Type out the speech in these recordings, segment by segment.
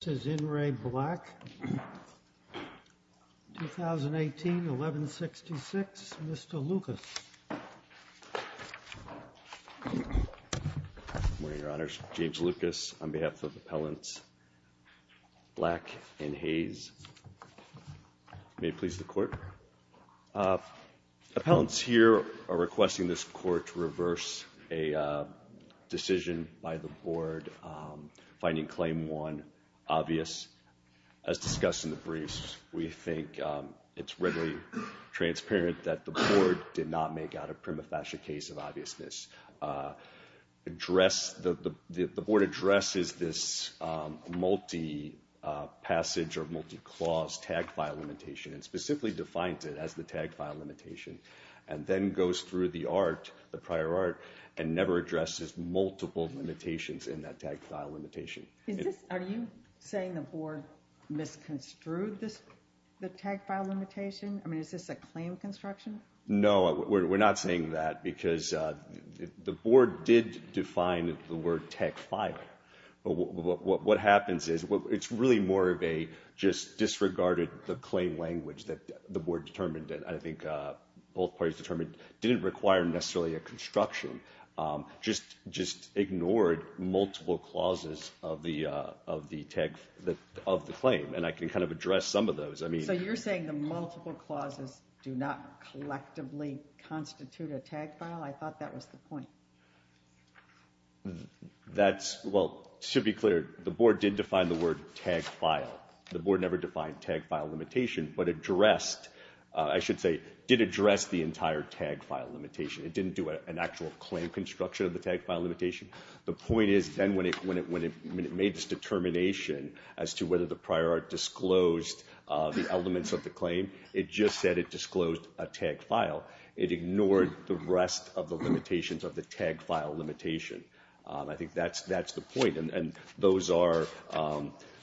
This is N. Ray Black, 2018, 1166. Mr. Lucas. Good morning, Your Honors. James Lucas on behalf of Appellants Black and Hayes. May it please the Court. Appellants here are requesting this Court to reverse a decision by the Board finding Claim 1 obvious. As discussed in the briefs, we think it's readily transparent that the Board did not make out a prima facie case of obviousness. The Board addresses this multi-passage or multi-clause tag file limitation and specifically defines it as the tag file limitation, and then goes through the art, the prior art, and never addresses multiple limitations in that tag file limitation. Are you saying the Board misconstrued the tag file limitation? I mean, is this a claim of construction? No, we're not saying that, because the Board did define the word tag file. But what happens is, it's really more of a just disregarded the claim language that the Board determined, and I think both parties determined didn't require necessarily a construction, just ignored multiple clauses of the tag, of the claim, and I can kind of address some of those. So you're saying the multiple clauses do not collectively constitute a tag file? I thought that was the point. That's, well, should be clear, the Board did define the word tag file. The Board never defined tag file limitation, but addressed, I should say, did address the entire tag file limitation. It didn't do an actual claim construction of the tag file limitation. The point is, then, when it made this determination as to whether the prior art disclosed the elements of the claim, it just said it disclosed a tag file. It ignored the rest of the limitations of the tag file limitation. I think that's the point, and those are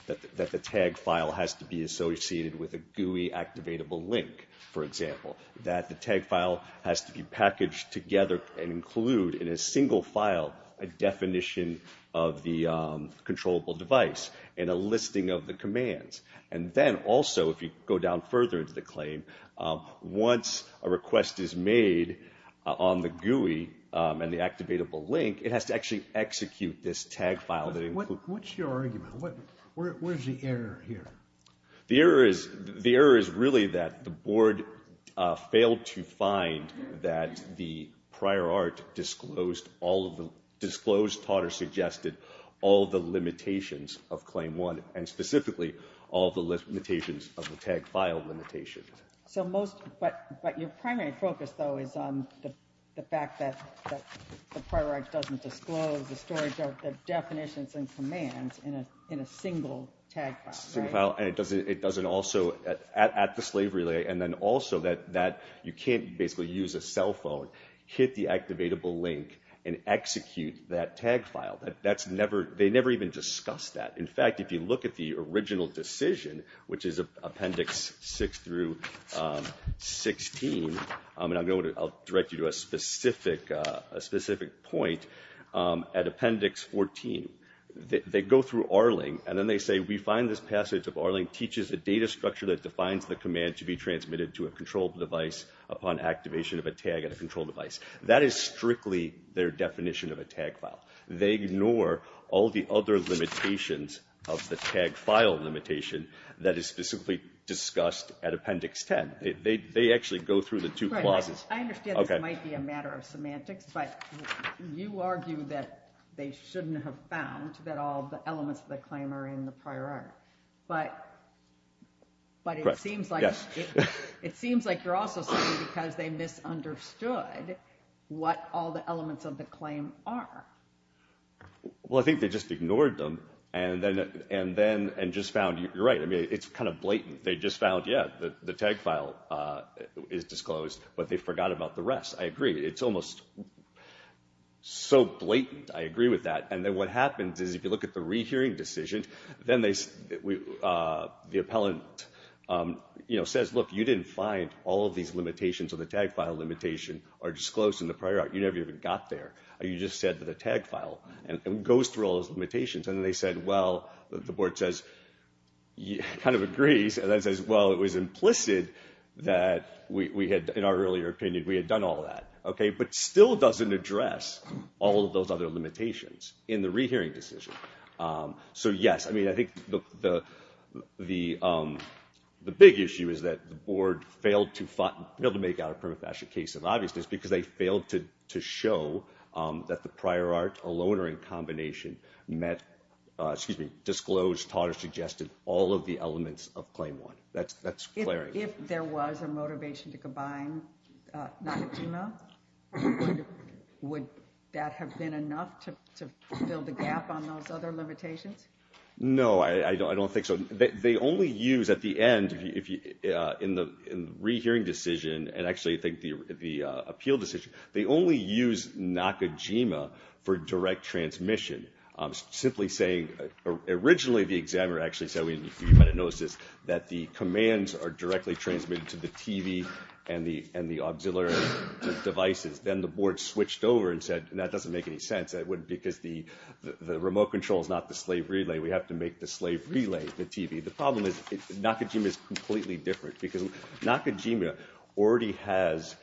that the tag file has to be associated with a GUI-activatable link, for example. That the tag file has to be packaged together and include in a single file a definition of the controllable device and a listing of the commands. And then, also, if you go down further into the claim, once a request is made on the GUI and the activatable link, it has to actually execute this tag file. What's your argument? Where's the error here? The error is really that the Board failed to find that the prior art disclosed, taught or suggested, all the limitations of Claim 1 and, specifically, all the limitations of the tag file limitation. But your primary focus, though, is on the fact that the prior art doesn't disclose the definitions and commands in a single tag file, right? And it doesn't also, at the slave relay, and then also that you can't basically use a cell phone, hit the activatable link and execute that tag file. They never even discussed that. In fact, if you look at the original decision, which is Appendix 6 through 16, and I'll direct you to a specific point at Appendix 14. They go through R-Link and then they say, we find this passage of R-Link teaches a data structure that defines the command to be transmitted to a controlled device upon activation of a tag at a controlled device. That is strictly their definition of a tag file. They ignore all the other limitations of the tag file limitation that is specifically discussed at Appendix 10. They actually go through the two clauses. I understand this might be a matter of semantics, but you argue that they shouldn't have found that all the elements of the claim are in the prior art. But it seems like you're also saying because they misunderstood what all the elements of the claim are. Well, I think they just ignored them and just found, you're right, it's kind of blatant. They just found, yeah, the tag file is disclosed, but they forgot about the rest. I agree. It's almost so blatant. I agree with that. And then what happens is if you look at the rehearing decision, then the appellant says, look, you didn't find all of these limitations of the tag file limitation are disclosed in the prior art. You never even got there. You just said that the tag file goes through all those limitations. And then they said, well, the board says, kind of agrees. And then it says, well, it was implicit that we had, in our earlier opinion, we had done all that. But still doesn't address all of those other limitations in the rehearing decision. So, yes, I mean, I think the big issue is that the board failed to make out a prima facie case of obviousness because they failed to show that the prior art alone or in combination met, excuse me, disclosed, taught, or suggested all of the elements of Claim 1. That's clear. If there was a motivation to combine Nakajima, would that have been enough to fill the gap on those other limitations? No, I don't think so. They only use, at the end, in the rehearing decision, and actually I think the appeal decision, they only use Nakajima for direct transmission. Simply saying, originally the examiner actually said, you might have noticed this, that the commands are directly transmitted to the TV and the auxiliary devices. Then the board switched over and said, that doesn't make any sense. Because the remote control is not the slave relay. We have to make the slave relay the TV. The problem is Nakajima is completely different because Nakajima already has,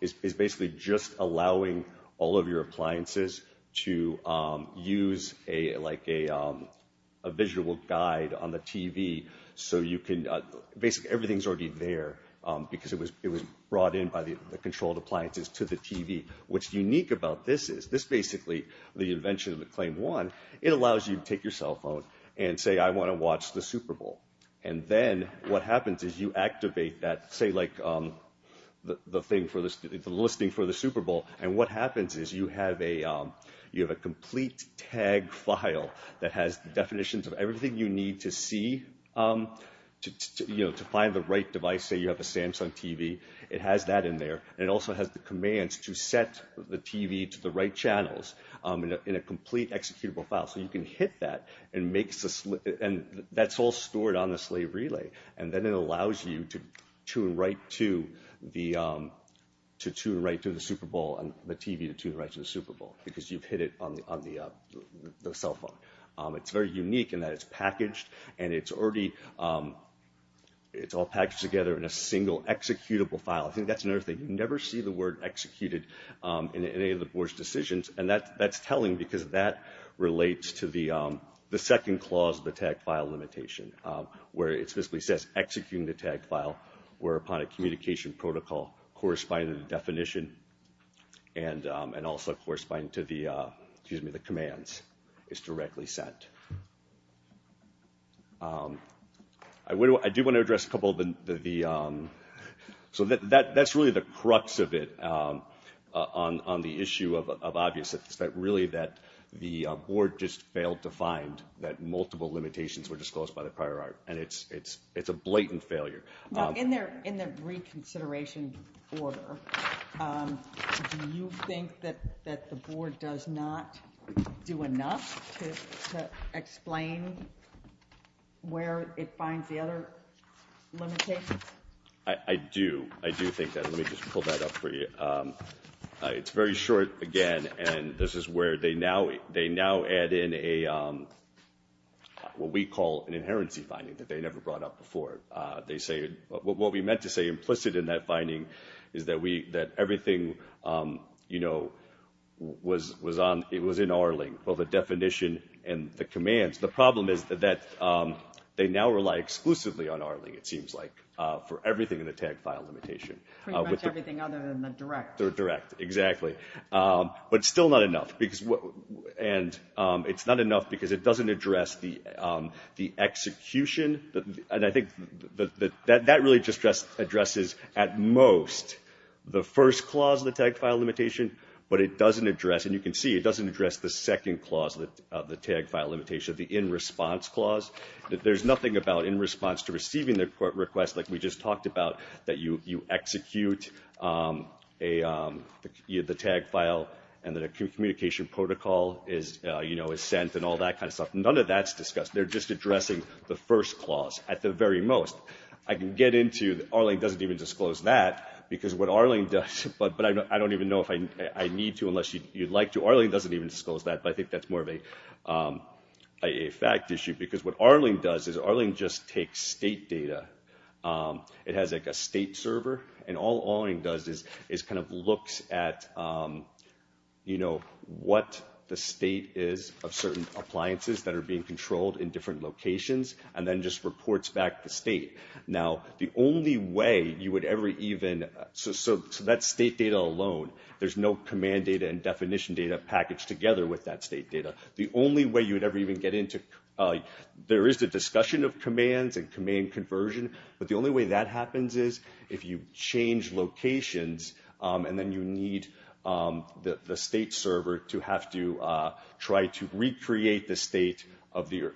is basically just allowing all of your appliances to use a visual guide on the TV. So you can, basically everything's already there because it was brought in by the controlled appliances to the TV. What's unique about this is, this basically, the invention of the Claim 1, it allows you to take your cell phone and say, I want to watch the Super Bowl. And then what happens is you activate that, say like the listing for the Super Bowl. And what happens is you have a complete tag file that has definitions of everything you need to see to find the right device. Say you have a Samsung TV, it has that in there. And it also has the commands to set the TV to the right channels in a complete executable file. So you can hit that and that's all stored on the slave relay. And then it allows you to tune right to the Super Bowl and the TV to tune right to the Super Bowl because you've hit it on the cell phone. It's very unique in that it's packaged and it's already, it's all packaged together in a single executable file. I think that's another thing, you never see the word executed in any of the board's decisions. And that's telling because that relates to the second clause of the tag file limitation. Where it specifically says executing the tag file where upon a communication protocol corresponding to the definition and also corresponding to the commands is directly sent. I do want to address a couple of the, so that's really the crux of it on the issue of obviousness. It's that really that the board just failed to find that multiple limitations were disclosed by the prior art. And it's a blatant failure. Now in the reconsideration order, do you think that the board does not do enough to explain where it finds the other limitations? I do. I do think that. Let me just pull that up for you. It's very short again and this is where they now add in a, what we call an inherency finding that they never brought up before. They say, what we meant to say implicit in that finding is that everything, you know, was in R-Link. Well the definition and the commands, the problem is that they now rely exclusively on R-Link it seems like for everything in the tag file limitation. Pretty much everything other than the direct. The direct, exactly. But still not enough. And it's not enough because it doesn't address the execution. And I think that really just addresses at most the first clause of the tag file limitation. But it doesn't address, and you can see it doesn't address the second clause of the tag file limitation, the in response clause. There's nothing about in response to receiving the request like we just talked about that you execute the tag file and then a communication protocol is sent and all that kind of stuff. None of that's discussed. They're just addressing the first clause at the very most. I can get into R-Link doesn't even disclose that because what R-Link does, but I don't even know if I need to unless you'd like to. R-Link doesn't even disclose that but I think that's more of a fact issue because what R-Link does is R-Link just takes state data. It has like a state server and all R-Link does is kind of looks at what the state is of certain appliances that are being controlled in different locations and then just reports back the state. Now the only way you would ever even, so that's state data alone. There's no command data and definition data packaged together with that state data. The only way you would ever even get into, there is the discussion of commands and command conversion. But the only way that happens is if you change locations and then you need the state server to have to try to recreate the state at the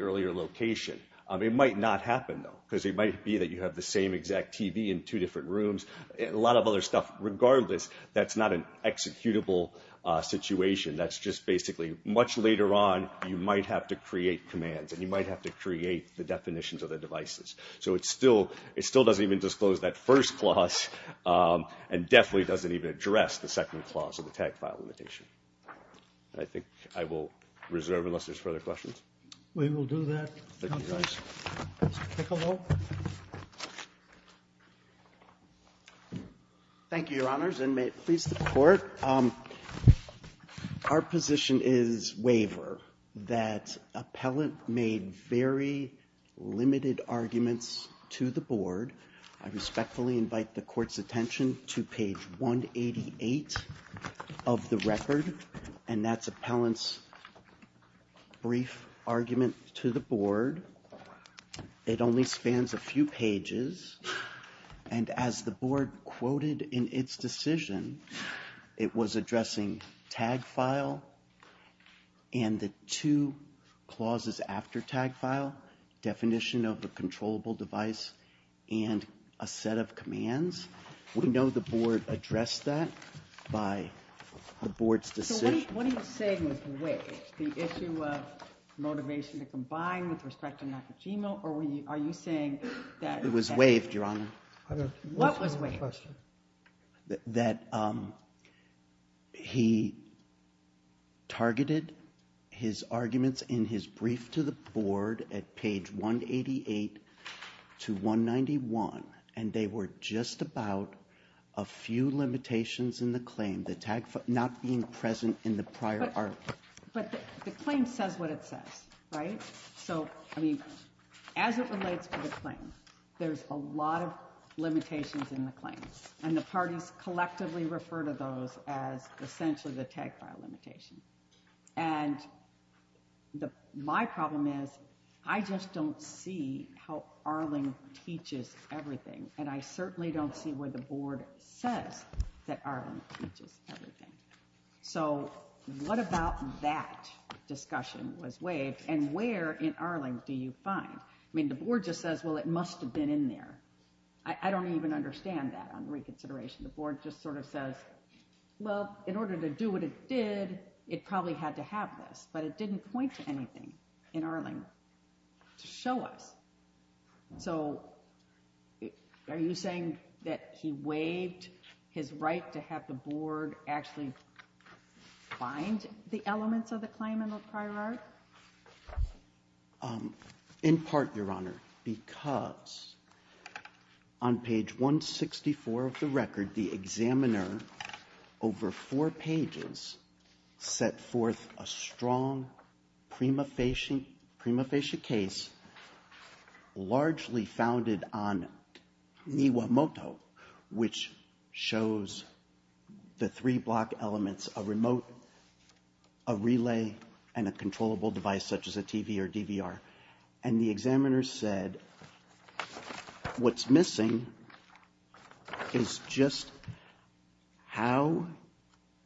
earlier location. It might not happen though because it might be that you have the same exact TV in two different rooms and a lot of other stuff. Regardless, that's not an executable situation. That's just basically much later on you might have to create commands and you might have to create the definitions of the devices. So it still doesn't even disclose that first clause and definitely doesn't even address the second clause of the tag file limitation. I think I will reserve unless there's further questions. We will do that. Thank you, Your Honors, and may it please the court. Our position is waiver that appellant made very limited arguments to the board. I respectfully invite the court's attention to page 188 of the record. And that's appellant's brief argument to the board. It only spans a few pages. And as the board quoted in its decision, it was addressing tag file and the two clauses after tag file. Definition of a controllable device and a set of commands. We know the board addressed that by the board's decision. What are you saying is waived? The issue of motivation to combine with respect to Nakajima or are you saying that it was waived, Your Honor? What was waived? That he targeted his arguments in his brief to the board at page 188 to 191. And they were just about a few limitations in the claim, the tag file not being present in the prior article. But the claim says what it says, right? So, I mean, as it relates to the claim, there's a lot of limitations in the claim. And the parties collectively refer to those as essentially the tag file limitation. And my problem is I just don't see how Arling teaches everything. And I certainly don't see where the board says that Arling teaches everything. So, what about that discussion was waived and where in Arling do you find? I mean, the board just says, well, it must have been in there. I don't even understand that on reconsideration. The board just sort of says, well, in order to do what it did, it probably had to have this. But it didn't point to anything in Arling to show us. So, are you saying that he waived his right to have the board actually find the elements of the claim in the prior art? In part, Your Honor, because on page 164 of the record, the examiner, over four pages, set forth a strong prima facie case largely founded on Niwa Moto, which shows the three block elements, a remote, a relay, and a controllable device such as a TV or DVR. And the examiner said, what's missing is just how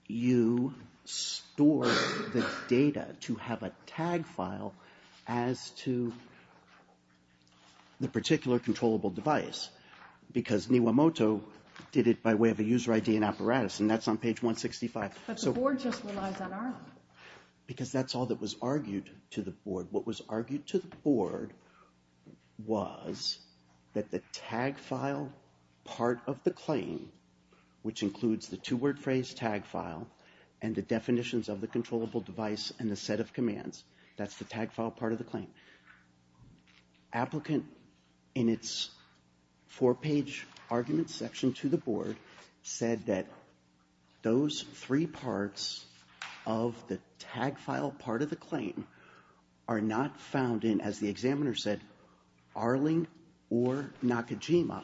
you store the data to have a tag file as to the particular controllable device. Because Niwa Moto did it by way of a user ID and apparatus, and that's on page 165. But the board just relies on Arling. Because that's all that was argued to the board. What was argued to the board was that the tag file part of the claim, which includes the two-word phrase tag file and the definitions of the controllable device and the set of commands, applicant, in its four-page argument section to the board, said that those three parts of the tag file part of the claim are not found in, as the examiner said, Arling or Nakajima.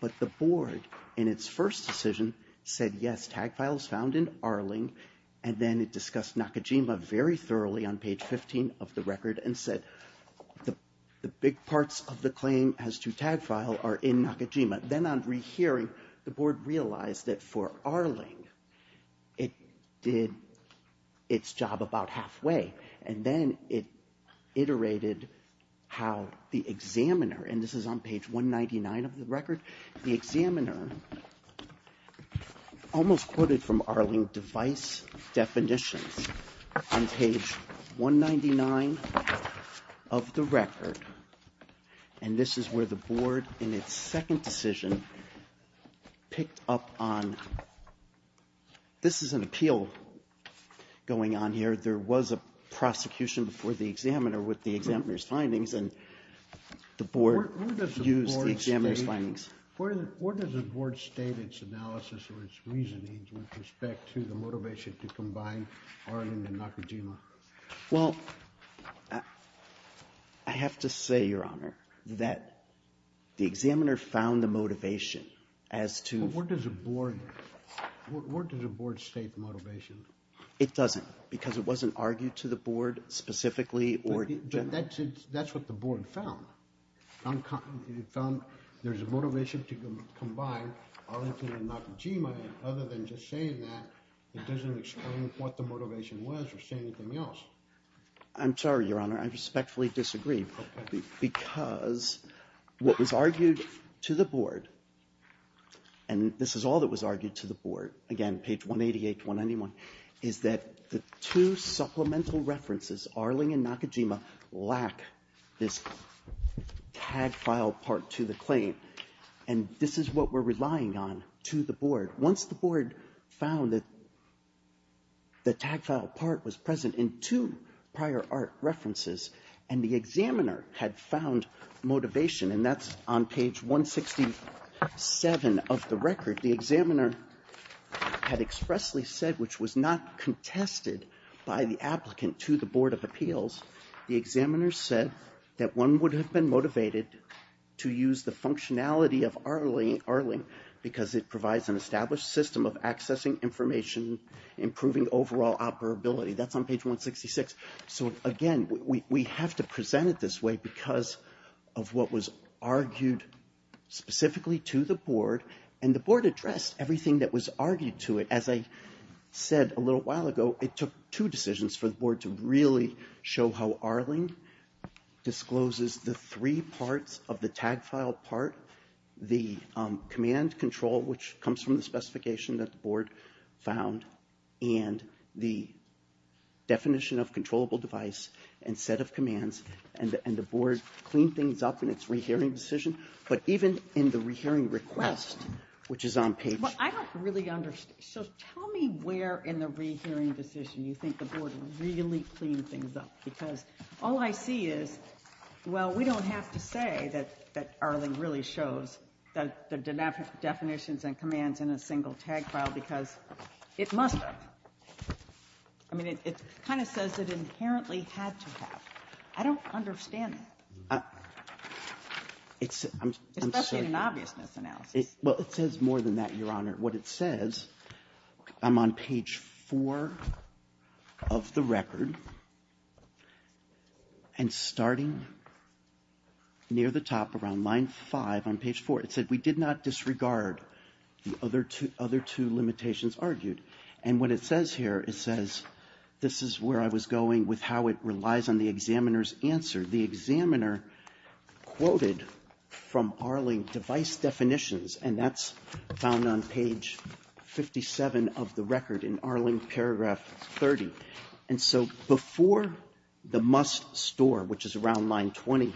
But the board, in its first decision, said, yes, tag file is found in Arling. And then it discussed Nakajima very thoroughly on page 15 of the record and said, the big parts of the claim as to tag file are in Nakajima. Then on rehearing, the board realized that for Arling, it did its job about halfway. And then it iterated how the examiner, and this is on page 199 of the record, the examiner almost quoted from Arling device definitions on page 199 of the record. And this is where the board, in its second decision, picked up on. This is an appeal going on here. There was a prosecution before the examiner with the examiner's findings. And the board used the examiner's findings. Where does the board state its analysis or its reasoning with respect to the motivation to combine Arling and Nakajima? Well, I have to say, Your Honor, that the examiner found the motivation as to Where does the board state the motivation? It doesn't, because it wasn't argued to the board specifically or generally. That's what the board found. It found there's a motivation to combine Arlington and Nakajima. Other than just saying that, it doesn't explain what the motivation was or say anything else. I'm sorry, Your Honor, I respectfully disagree. Because what was argued to the board, and this is all that was argued to the board, again, page 188 to 191, is that the two supplemental references, Arling and Nakajima, lack this tag file part to the claim. And this is what we're relying on to the board. Once the board found that the tag file part was present in two prior art references, and the examiner had found motivation, and that's on page 167 of the record, the examiner had expressly said, which was not contested by the applicant to the Board of Appeals, the examiner said that one would have been motivated to use the functionality of Arling because it provides an established system of accessing information, improving overall operability. That's on page 166. So, again, we have to present it this way because of what was argued specifically to the board, and the board addressed everything that was argued to it. As I said a little while ago, it took two decisions for the board to really show how Arling discloses the three parts of the tag file part, the command control, which comes from the specification that the board found, and the definition of controllable device and set of commands, and the board cleaned things up in its rehearing decision. But even in the rehearing request, which is on page 166. Well, I don't really understand. So tell me where in the rehearing decision you think the board really cleaned things up because all I see is, well, we don't have to say that Arling really shows the definitions and commands in a single tag file because it must have. I mean, it kind of says it inherently had to have. I don't understand that. Especially in an obvious misanalysis. Well, it says more than that, Your Honor. What it says, I'm on page 4 of the record, and starting near the top around line 5 on page 4, it said we did not disregard the other two limitations argued. And what it says here, it says this is where I was going with how it relies on the examiner's answer. The examiner quoted from Arling device definitions, and that's found on page 57 of the record in Arling paragraph 30. And so before the must store, which is around line 20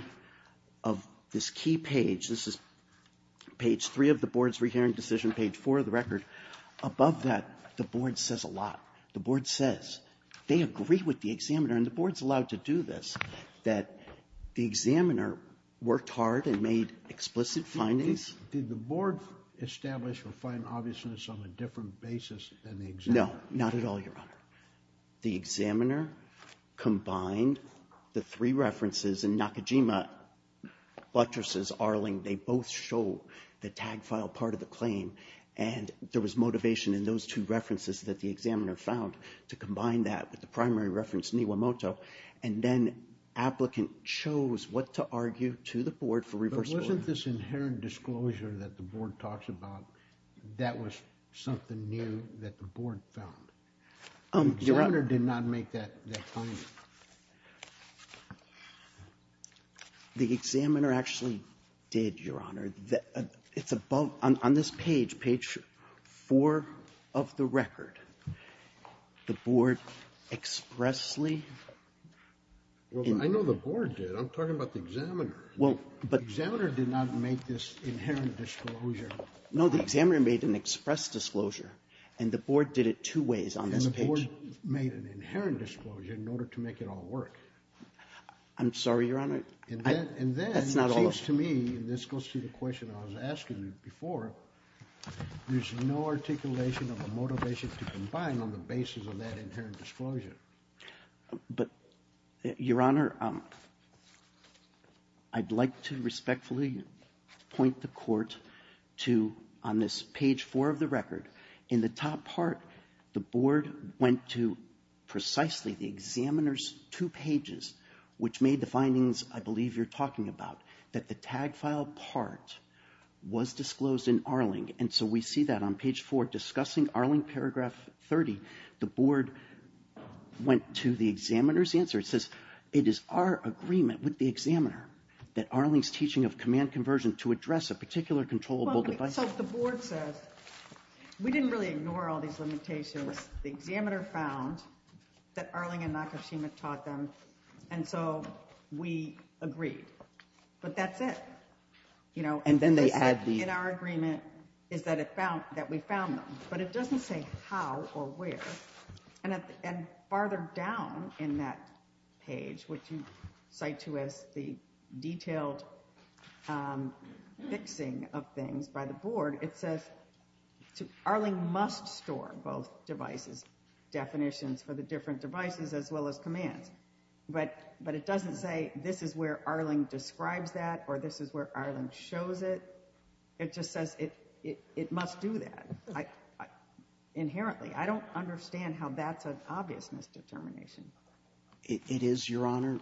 of this key page, this is page 3 of the board's rehearing decision, page 4 of the record, above that the board says a lot. The board says they agree with the examiner, and the board's allowed to do this, that the examiner worked hard and made explicit findings. Did the board establish or find obviousness on a different basis than the examiner? No, not at all, Your Honor. The examiner combined the three references in Nakajima, Buttress's, Arling. They both show the tag file part of the claim, and there was motivation in those two references that the examiner found to combine that with the primary reference in Iwamoto. And then applicant chose what to argue to the board for reverse order. But wasn't this inherent disclosure that the board talks about, that was something new that the board found? The examiner did not make that finding. The examiner actually did, Your Honor. It's above on this page, page 4 of the record. The board expressly ---- Well, I know the board did. I'm talking about the examiner. Well, but ---- The examiner did not make this inherent disclosure. No, the examiner made an express disclosure, and the board did it two ways on this page. And the board made an inherent disclosure in order to make it all work. I'm sorry, Your Honor. And then ---- That's not all of it. And then it seems to me, and this goes to the question I was asking before, there's no articulation of a motivation to combine on the basis of that inherent disclosure. But, Your Honor, I'd like to respectfully point the court to, on this page 4 of the record, in the top part, the board went to precisely the examiner's two pages, which made the findings I believe you're talking about, that the tag file part was disclosed in Arling. And so we see that on page 4, discussing Arling paragraph 30, the board went to the examiner's answer. It says, it is our agreement with the examiner that Arling's teaching of command conversion to address a particular controllable device ---- Well, I mean, so the board says, we didn't really ignore all these limitations. The examiner found that Arling and Nakashima taught them, and so we agreed. But that's it. In our agreement is that we found them. But it doesn't say how or where. And farther down in that page, which you cite to as the detailed fixing of things by the board, it says Arling must store both devices, definitions for the different devices as well as commands. But it doesn't say this is where Arling describes that or this is where Arling shows it. It just says it must do that inherently. I don't understand how that's an obvious misdetermination. It is, Your Honor,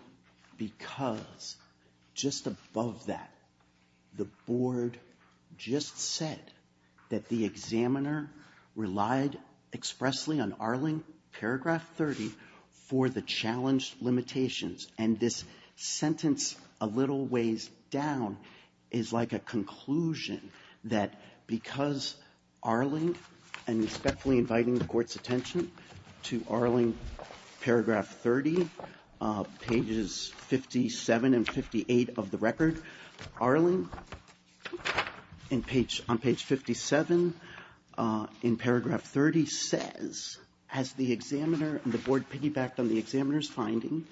because just above that, the board just said that the examiner relied expressly on Arling, paragraph 30, for the challenged limitations. And this sentence a little ways down is like a conclusion that because Arling and respectfully inviting the Court's attention to Arling, paragraph 30, pages 57 and 58 of the record, Arling on page 57 in paragraph 30 says, as the examiner and the board piggybacked on the examiner's finding,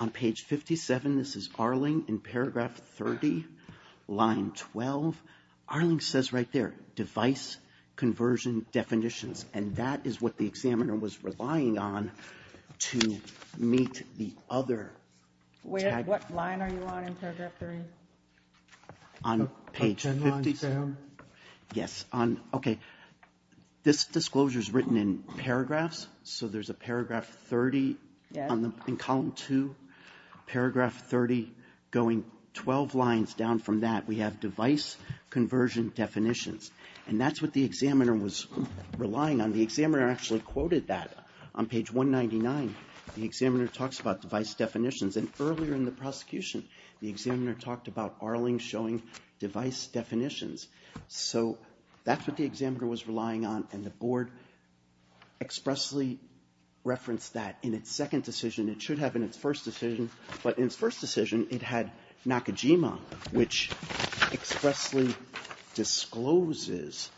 on page 57, this is Arling in paragraph 30, line 12, Arling says right there, device conversion definitions. And that is what the examiner was relying on to meet the other. What line are you on in paragraph 30? On page 57. On line 10. Yes. Okay. This disclosure is written in paragraphs, so there's a paragraph 30 in column 2, paragraph 30 going 12 lines down from that. We have device conversion definitions. And that's what the examiner was relying on. The examiner actually quoted that on page 199. The examiner talks about device definitions, and earlier in the prosecution, the examiner talked about Arling showing device definitions. So that's what the examiner was relying on, and the board expressly referenced that in its second decision. It should have in its first decision, but in its first decision, it had Nakajima, which expressly discloses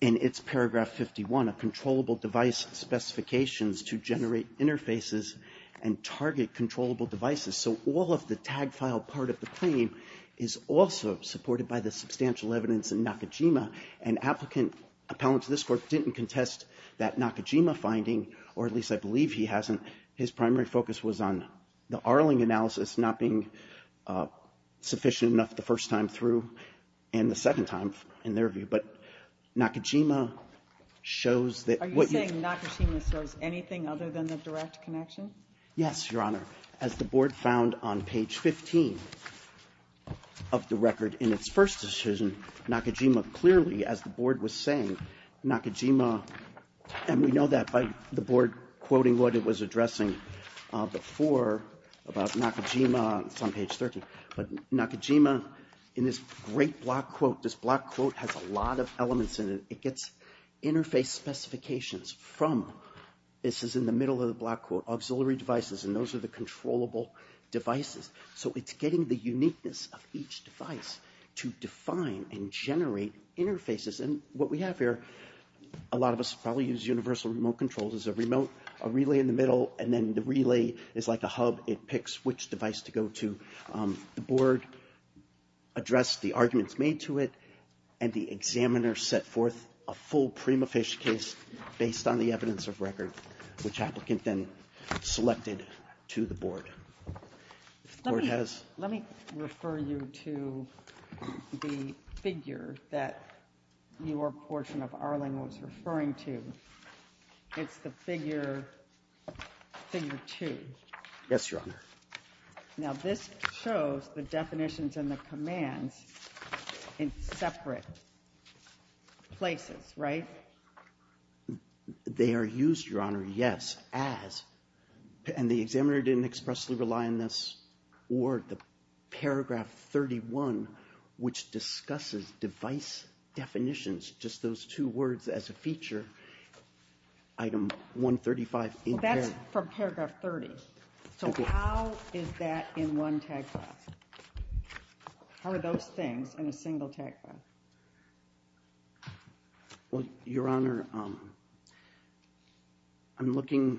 in its paragraph 51, a controllable device specifications to generate interfaces and target controllable devices. So all of the tag file part of the claim is also supported by the substantial evidence in Nakajima, and appellants of this court didn't contest that Nakajima finding, or at least I believe he hasn't. His primary focus was on the Arling analysis not being sufficient enough the first time through and the second time, in their view. But Nakajima shows that what you can do. Are you saying Nakajima shows anything other than the direct connection? Yes, Your Honor. As the board found on page 15 of the record in its first decision, Nakajima clearly, as the board was saying, Nakajima, and we know that by the board quoting what it was addressing before about Nakajima, it's on page 13, but Nakajima in this great block quote, this block quote has a lot of elements in it. It gets interface specifications from, this is in the middle of the block quote, auxiliary devices, and those are the controllable devices. So it's getting the uniqueness of each device to define and generate interfaces. And what we have here, a lot of us probably use universal remote controls as a remote, a relay in the middle, and then the relay is like a hub. It picks which device to go to. The board addressed the arguments made to it, and the examiner set forth a full Prima Fish case based on the evidence of record, which applicant then selected to the board. Let me refer you to the figure that your portion of Arling was referring to. It's the figure two. Yes, Your Honor. Now this shows the definitions and the commands in separate places, right? They are used, Your Honor, yes, as, and the examiner didn't expressly rely on this, or the paragraph 31, which discusses device definitions, just those two words as a feature, item 135 in there. That's from paragraph 30. So how is that in one tag file? How are those things in a single tag file? Well, Your Honor, I'm looking.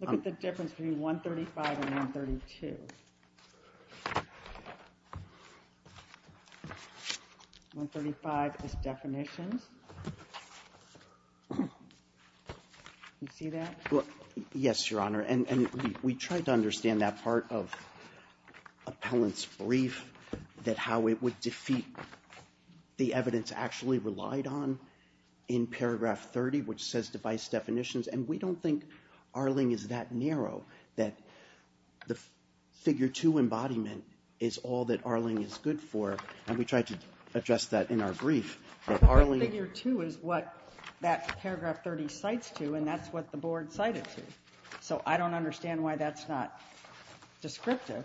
Look at the difference between 135 and 132. 135 is definitions. You see that? Yes, Your Honor, and we tried to understand that part of appellant's brief, that how it would defeat the evidence actually relied on in paragraph 30, which says device definitions, and we don't think Arling is that narrow, that the figure two embodiment is all that Arling is good for, and we tried to address that in our brief. But that figure two is what that paragraph 30 cites to, and that's what the board cited to. So I don't understand why that's not descriptive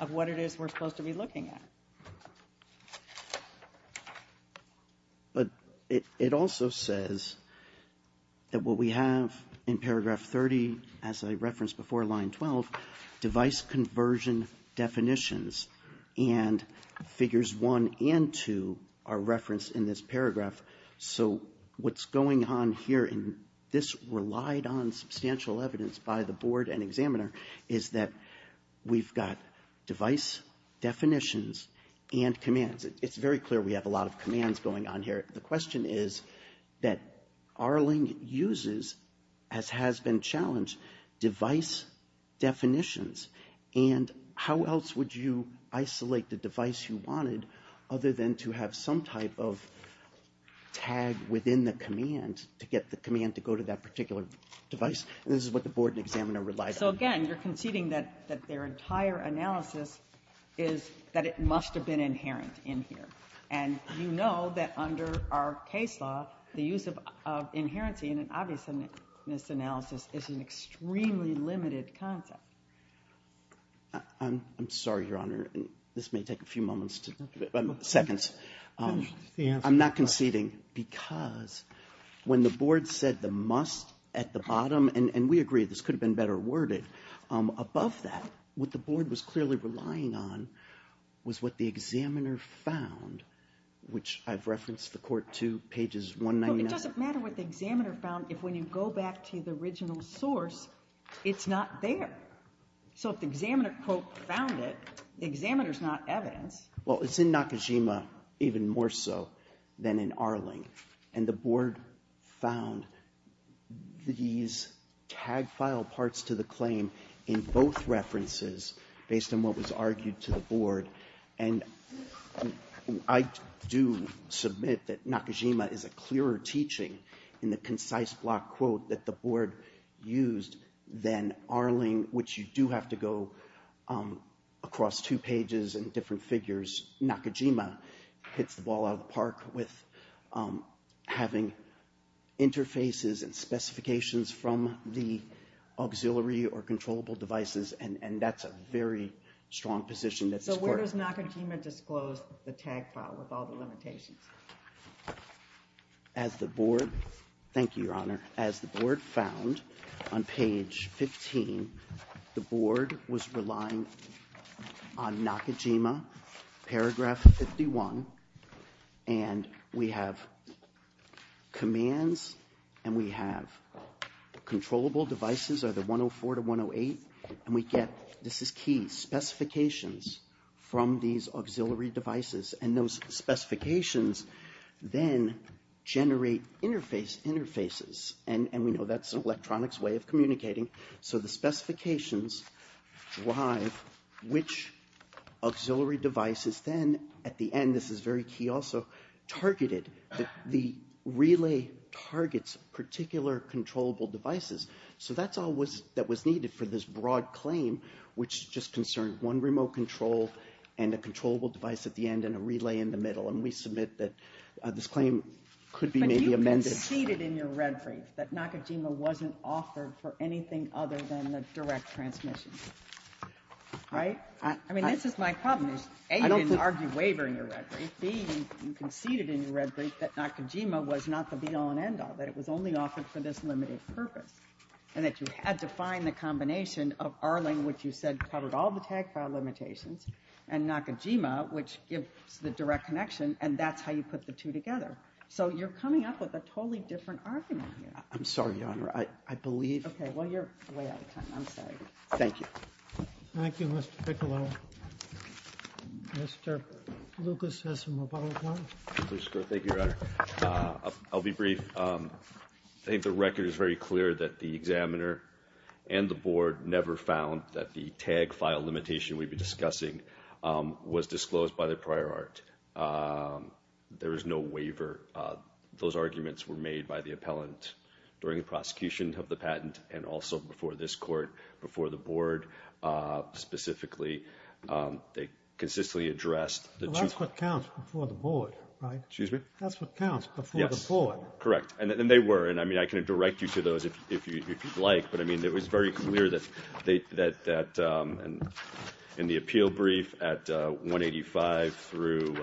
of what it is we're supposed to be looking at. But it also says that what we have in paragraph 30, as I referenced before, line 12, device conversion definitions, and figures one and two are referenced in this paragraph. So what's going on here, and this relied on substantial evidence by the board and examiner, is that we've got device definitions and commands. It's very clear we have a lot of commands going on here. The question is that Arling uses, as has been challenged, device definitions, and how else would you isolate the device you wanted other than to have some type of tag within the command to get the command to go to that particular device? And this is what the board and examiner relied on. So, again, you're conceding that their entire analysis is that it must have been inherent in here. And you know that under our case law, the use of inherency in an obviousness analysis is an extremely limited concept. I'm sorry, Your Honor. This may take a few moments to do it, seconds. I'm not conceding because when the board said the must at the bottom, and we agree this could have been better worded. Above that, what the board was clearly relying on was what the examiner found, which I've referenced the court to, pages 199. It doesn't matter what the examiner found if when you go back to the original source, it's not there. So if the examiner, quote, found it, the examiner's not evidence. Well, it's in Nakajima even more so than in Arling. And the board found these tag file parts to the claim in both references, based on what was argued to the board. And I do submit that Nakajima is a clearer teaching in the concise block quote that the board used than Arling, which you do have to go across two pages and different figures. Nakajima hits the ball out of the park with having interfaces and specifications from the auxiliary or controllable devices, and that's a very strong position that this court. So where does Nakajima disclose the tag file with all the limitations? As the board, thank you, Your Honor, as the board found on page 15, the board was relying on Nakajima, paragraph 51, and we have commands and we have controllable devices, either 104 to 108, and we get, this is key, specifications from these auxiliary devices. And those specifications then generate interfaces, and we know that's an electronics way of communicating. So the specifications drive which auxiliary devices then, at the end, this is very key also, targeted. The relay targets particular controllable devices. So that's all that was needed for this broad claim, which just concerned one remote control and a controllable device at the end and a relay in the middle. And we submit that this claim could be maybe amended. You conceded in your red brief that Nakajima wasn't offered for anything other than the direct transmission, right? I mean, this is my problem. A, you didn't argue waiver in your red brief. B, you conceded in your red brief that Nakajima was not the be-all and end-all, that it was only offered for this limited purpose, and that you had to find the combination of Arling, which you said covered all the tag file limitations, and Nakajima, which gives the direct connection, and that's how you put the two together. So you're coming up with a totally different argument here. I'm sorry, Your Honor. I believe. Okay. Well, you're way out of time. I'm sorry. Thank you. Thank you, Mr. Piccolo. Mr. Lucas has some rebuttals. Thank you, Your Honor. I'll be brief. I think the record is very clear that the examiner and the board never found that the tag file limitation we've been discussing was disclosed by the prior art. There was no waiver. Those arguments were made by the appellant during the prosecution of the patent and also before this court, before the board specifically. They consistently addressed the two. That's what counts before the board, right? Excuse me? That's what counts before the board. Yes, correct. And they were. And, I mean, I can direct you to those if you'd like, but, I mean, it was very clear that in the appeal brief at 185 through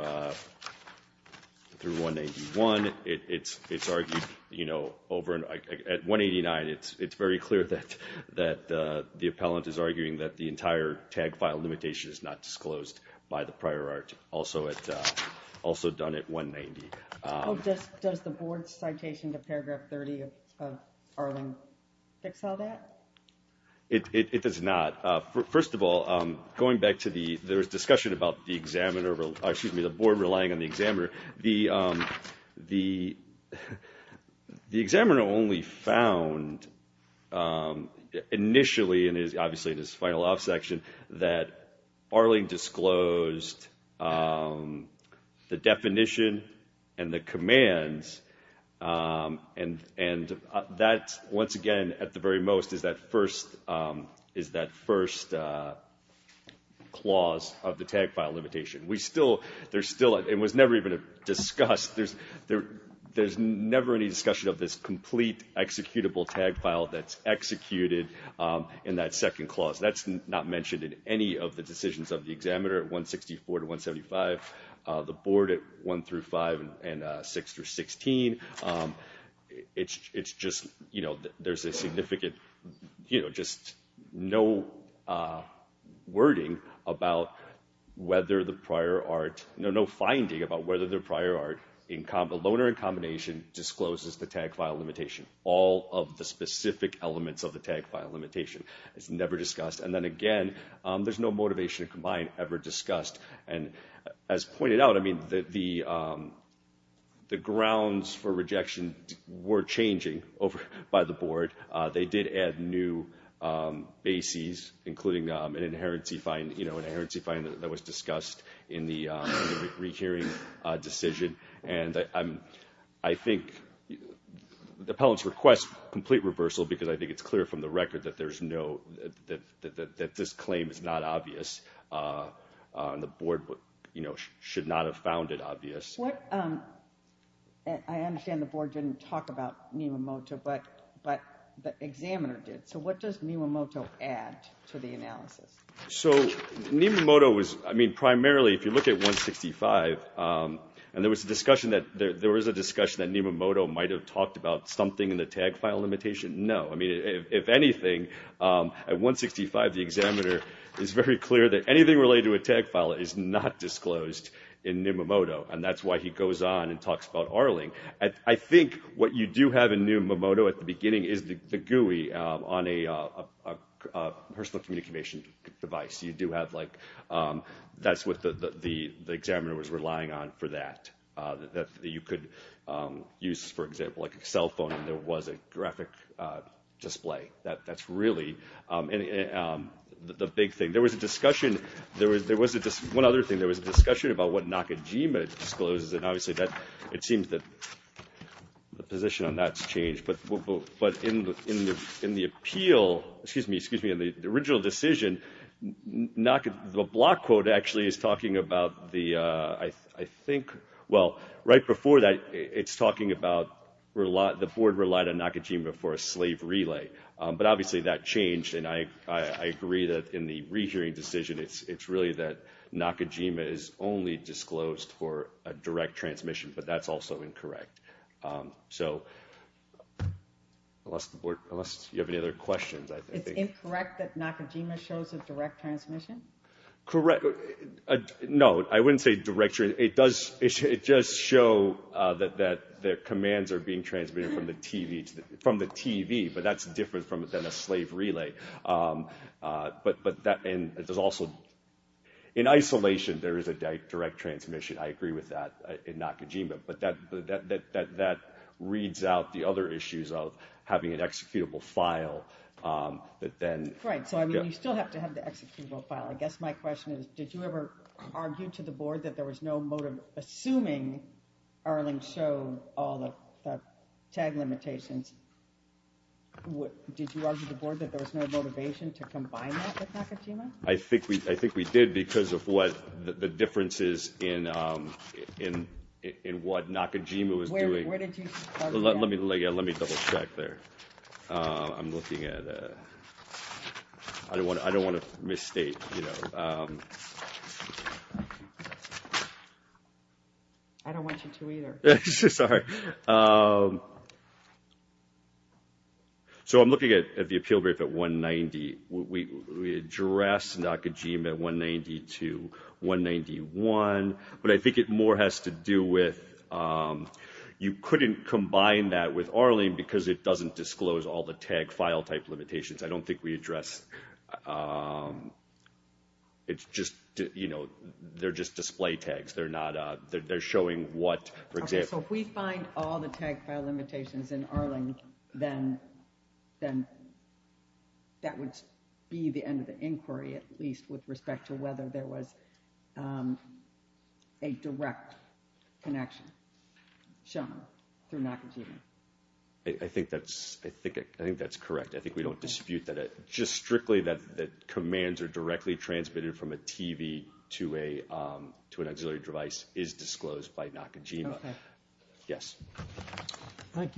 181, it's argued, you know, at 189, it's very clear that the appellant is arguing that the entire tag file limitation is not disclosed by the prior art, also done at 190. Does the board's citation to paragraph 30 of Arling fix all that? It does not. First of all, going back to the discussion about the examiner, excuse me, the board relying on the examiner, the examiner only found initially, and obviously in his final law section, that Arling disclosed the definition and the commands, and that, once again, at the very most, is that first clause of the tag file limitation. We still, there's still, it was never even discussed, there's never any discussion of this complete executable tag file that's executed in that second clause. That's not mentioned in any of the decisions of the examiner at 164 to 17. It's just, you know, there's a significant, you know, just no wording about whether the prior art, no finding about whether the prior art, the loaner in combination discloses the tag file limitation. All of the specific elements of the tag file limitation is never discussed. And then again, there's no motivation to combine ever discussed. And as pointed out, I mean, the grounds for rejection were changing by the board. They did add new bases, including an inherency fine, you know, an inherency fine that was discussed in the re-hearing decision. And I think the appellant's request, complete reversal because I think it's clear from the record that there's no, that this claim is not obvious and the board, you know, should not have found it obvious. I understand the board didn't talk about Nimamoto, but the examiner did. So what does Nimamoto add to the analysis? So Nimamoto was, I mean, primarily, if you look at 165, and there was a discussion that there was a discussion that Nimamoto might have talked about something in the tag file limitation. No. I mean, if anything at 165, the examiner is very clear that anything related to a tag file is not disclosed in Nimamoto. And that's why he goes on and talks about Arling. I think what you do have in Nimamoto at the beginning is the GUI on a personal communication device. You do have like, that's what the, the examiner was relying on for that, that you could use, for example, like a cell phone and there was a graphic display that that's really the big thing. There was a discussion. There was, there was just one other thing. There was a discussion about what Nakajima discloses. And obviously that, it seems that the position on that's changed, but, but, but in the, in the, in the appeal, excuse me, excuse me. And the original decision, not the block quote actually is talking about the I think, well, right before that it's talking about the board relied on Nakajima for a slave relay. But obviously that changed. And I, I agree that in the rehearing decision, it's, it's really that Nakajima is only disclosed for a direct transmission, but that's also incorrect. So unless the board, unless you have any other questions, I think. It's incorrect that Nakajima shows a direct transmission? Correct. No, I wouldn't say directory. It does. It just show that that their commands are being transmitted from the TV to the, from the TV, but that's different from, than a slave relay. But, but that, and there's also in isolation, there is a direct transmission. I agree with that in Nakajima, but that, that, that, that reads out the other issues of having an executable file that then. Right. So, I mean, you still have to have the executable file. I guess my question is, did you ever argue to the board that there was no motive assuming Erling showed all the tag limitations? Did you argue to the board that there was no motivation to combine that with Nakajima? I think we, I think we did because of what the differences in, in, in what Nakajima was doing. Let me, let me double check there. I'm looking at, I don't want to, I don't want to misstate, you know. I don't want you to either. Sorry. So I'm looking at the appeal brief at 190. We addressed Nakajima at 190 to 191, but I think it more has to do with you couldn't combine that with Erling because it doesn't disclose all the tag file type limitations. I don't think we address. It's just, you know, they're just display tags. They're not, they're showing what for example. So if we find all the tag file limitations in Erling, then, then that would be the end of the inquiry, at least with respect to whether there was a direct connection shown through Nakajima. I think that's, I think, I think that's correct. I think we don't dispute that. Just strictly that the commands are directly transmitted from a TV to a, to an auxiliary device is disclosed by Nakajima. Yes. Thank you.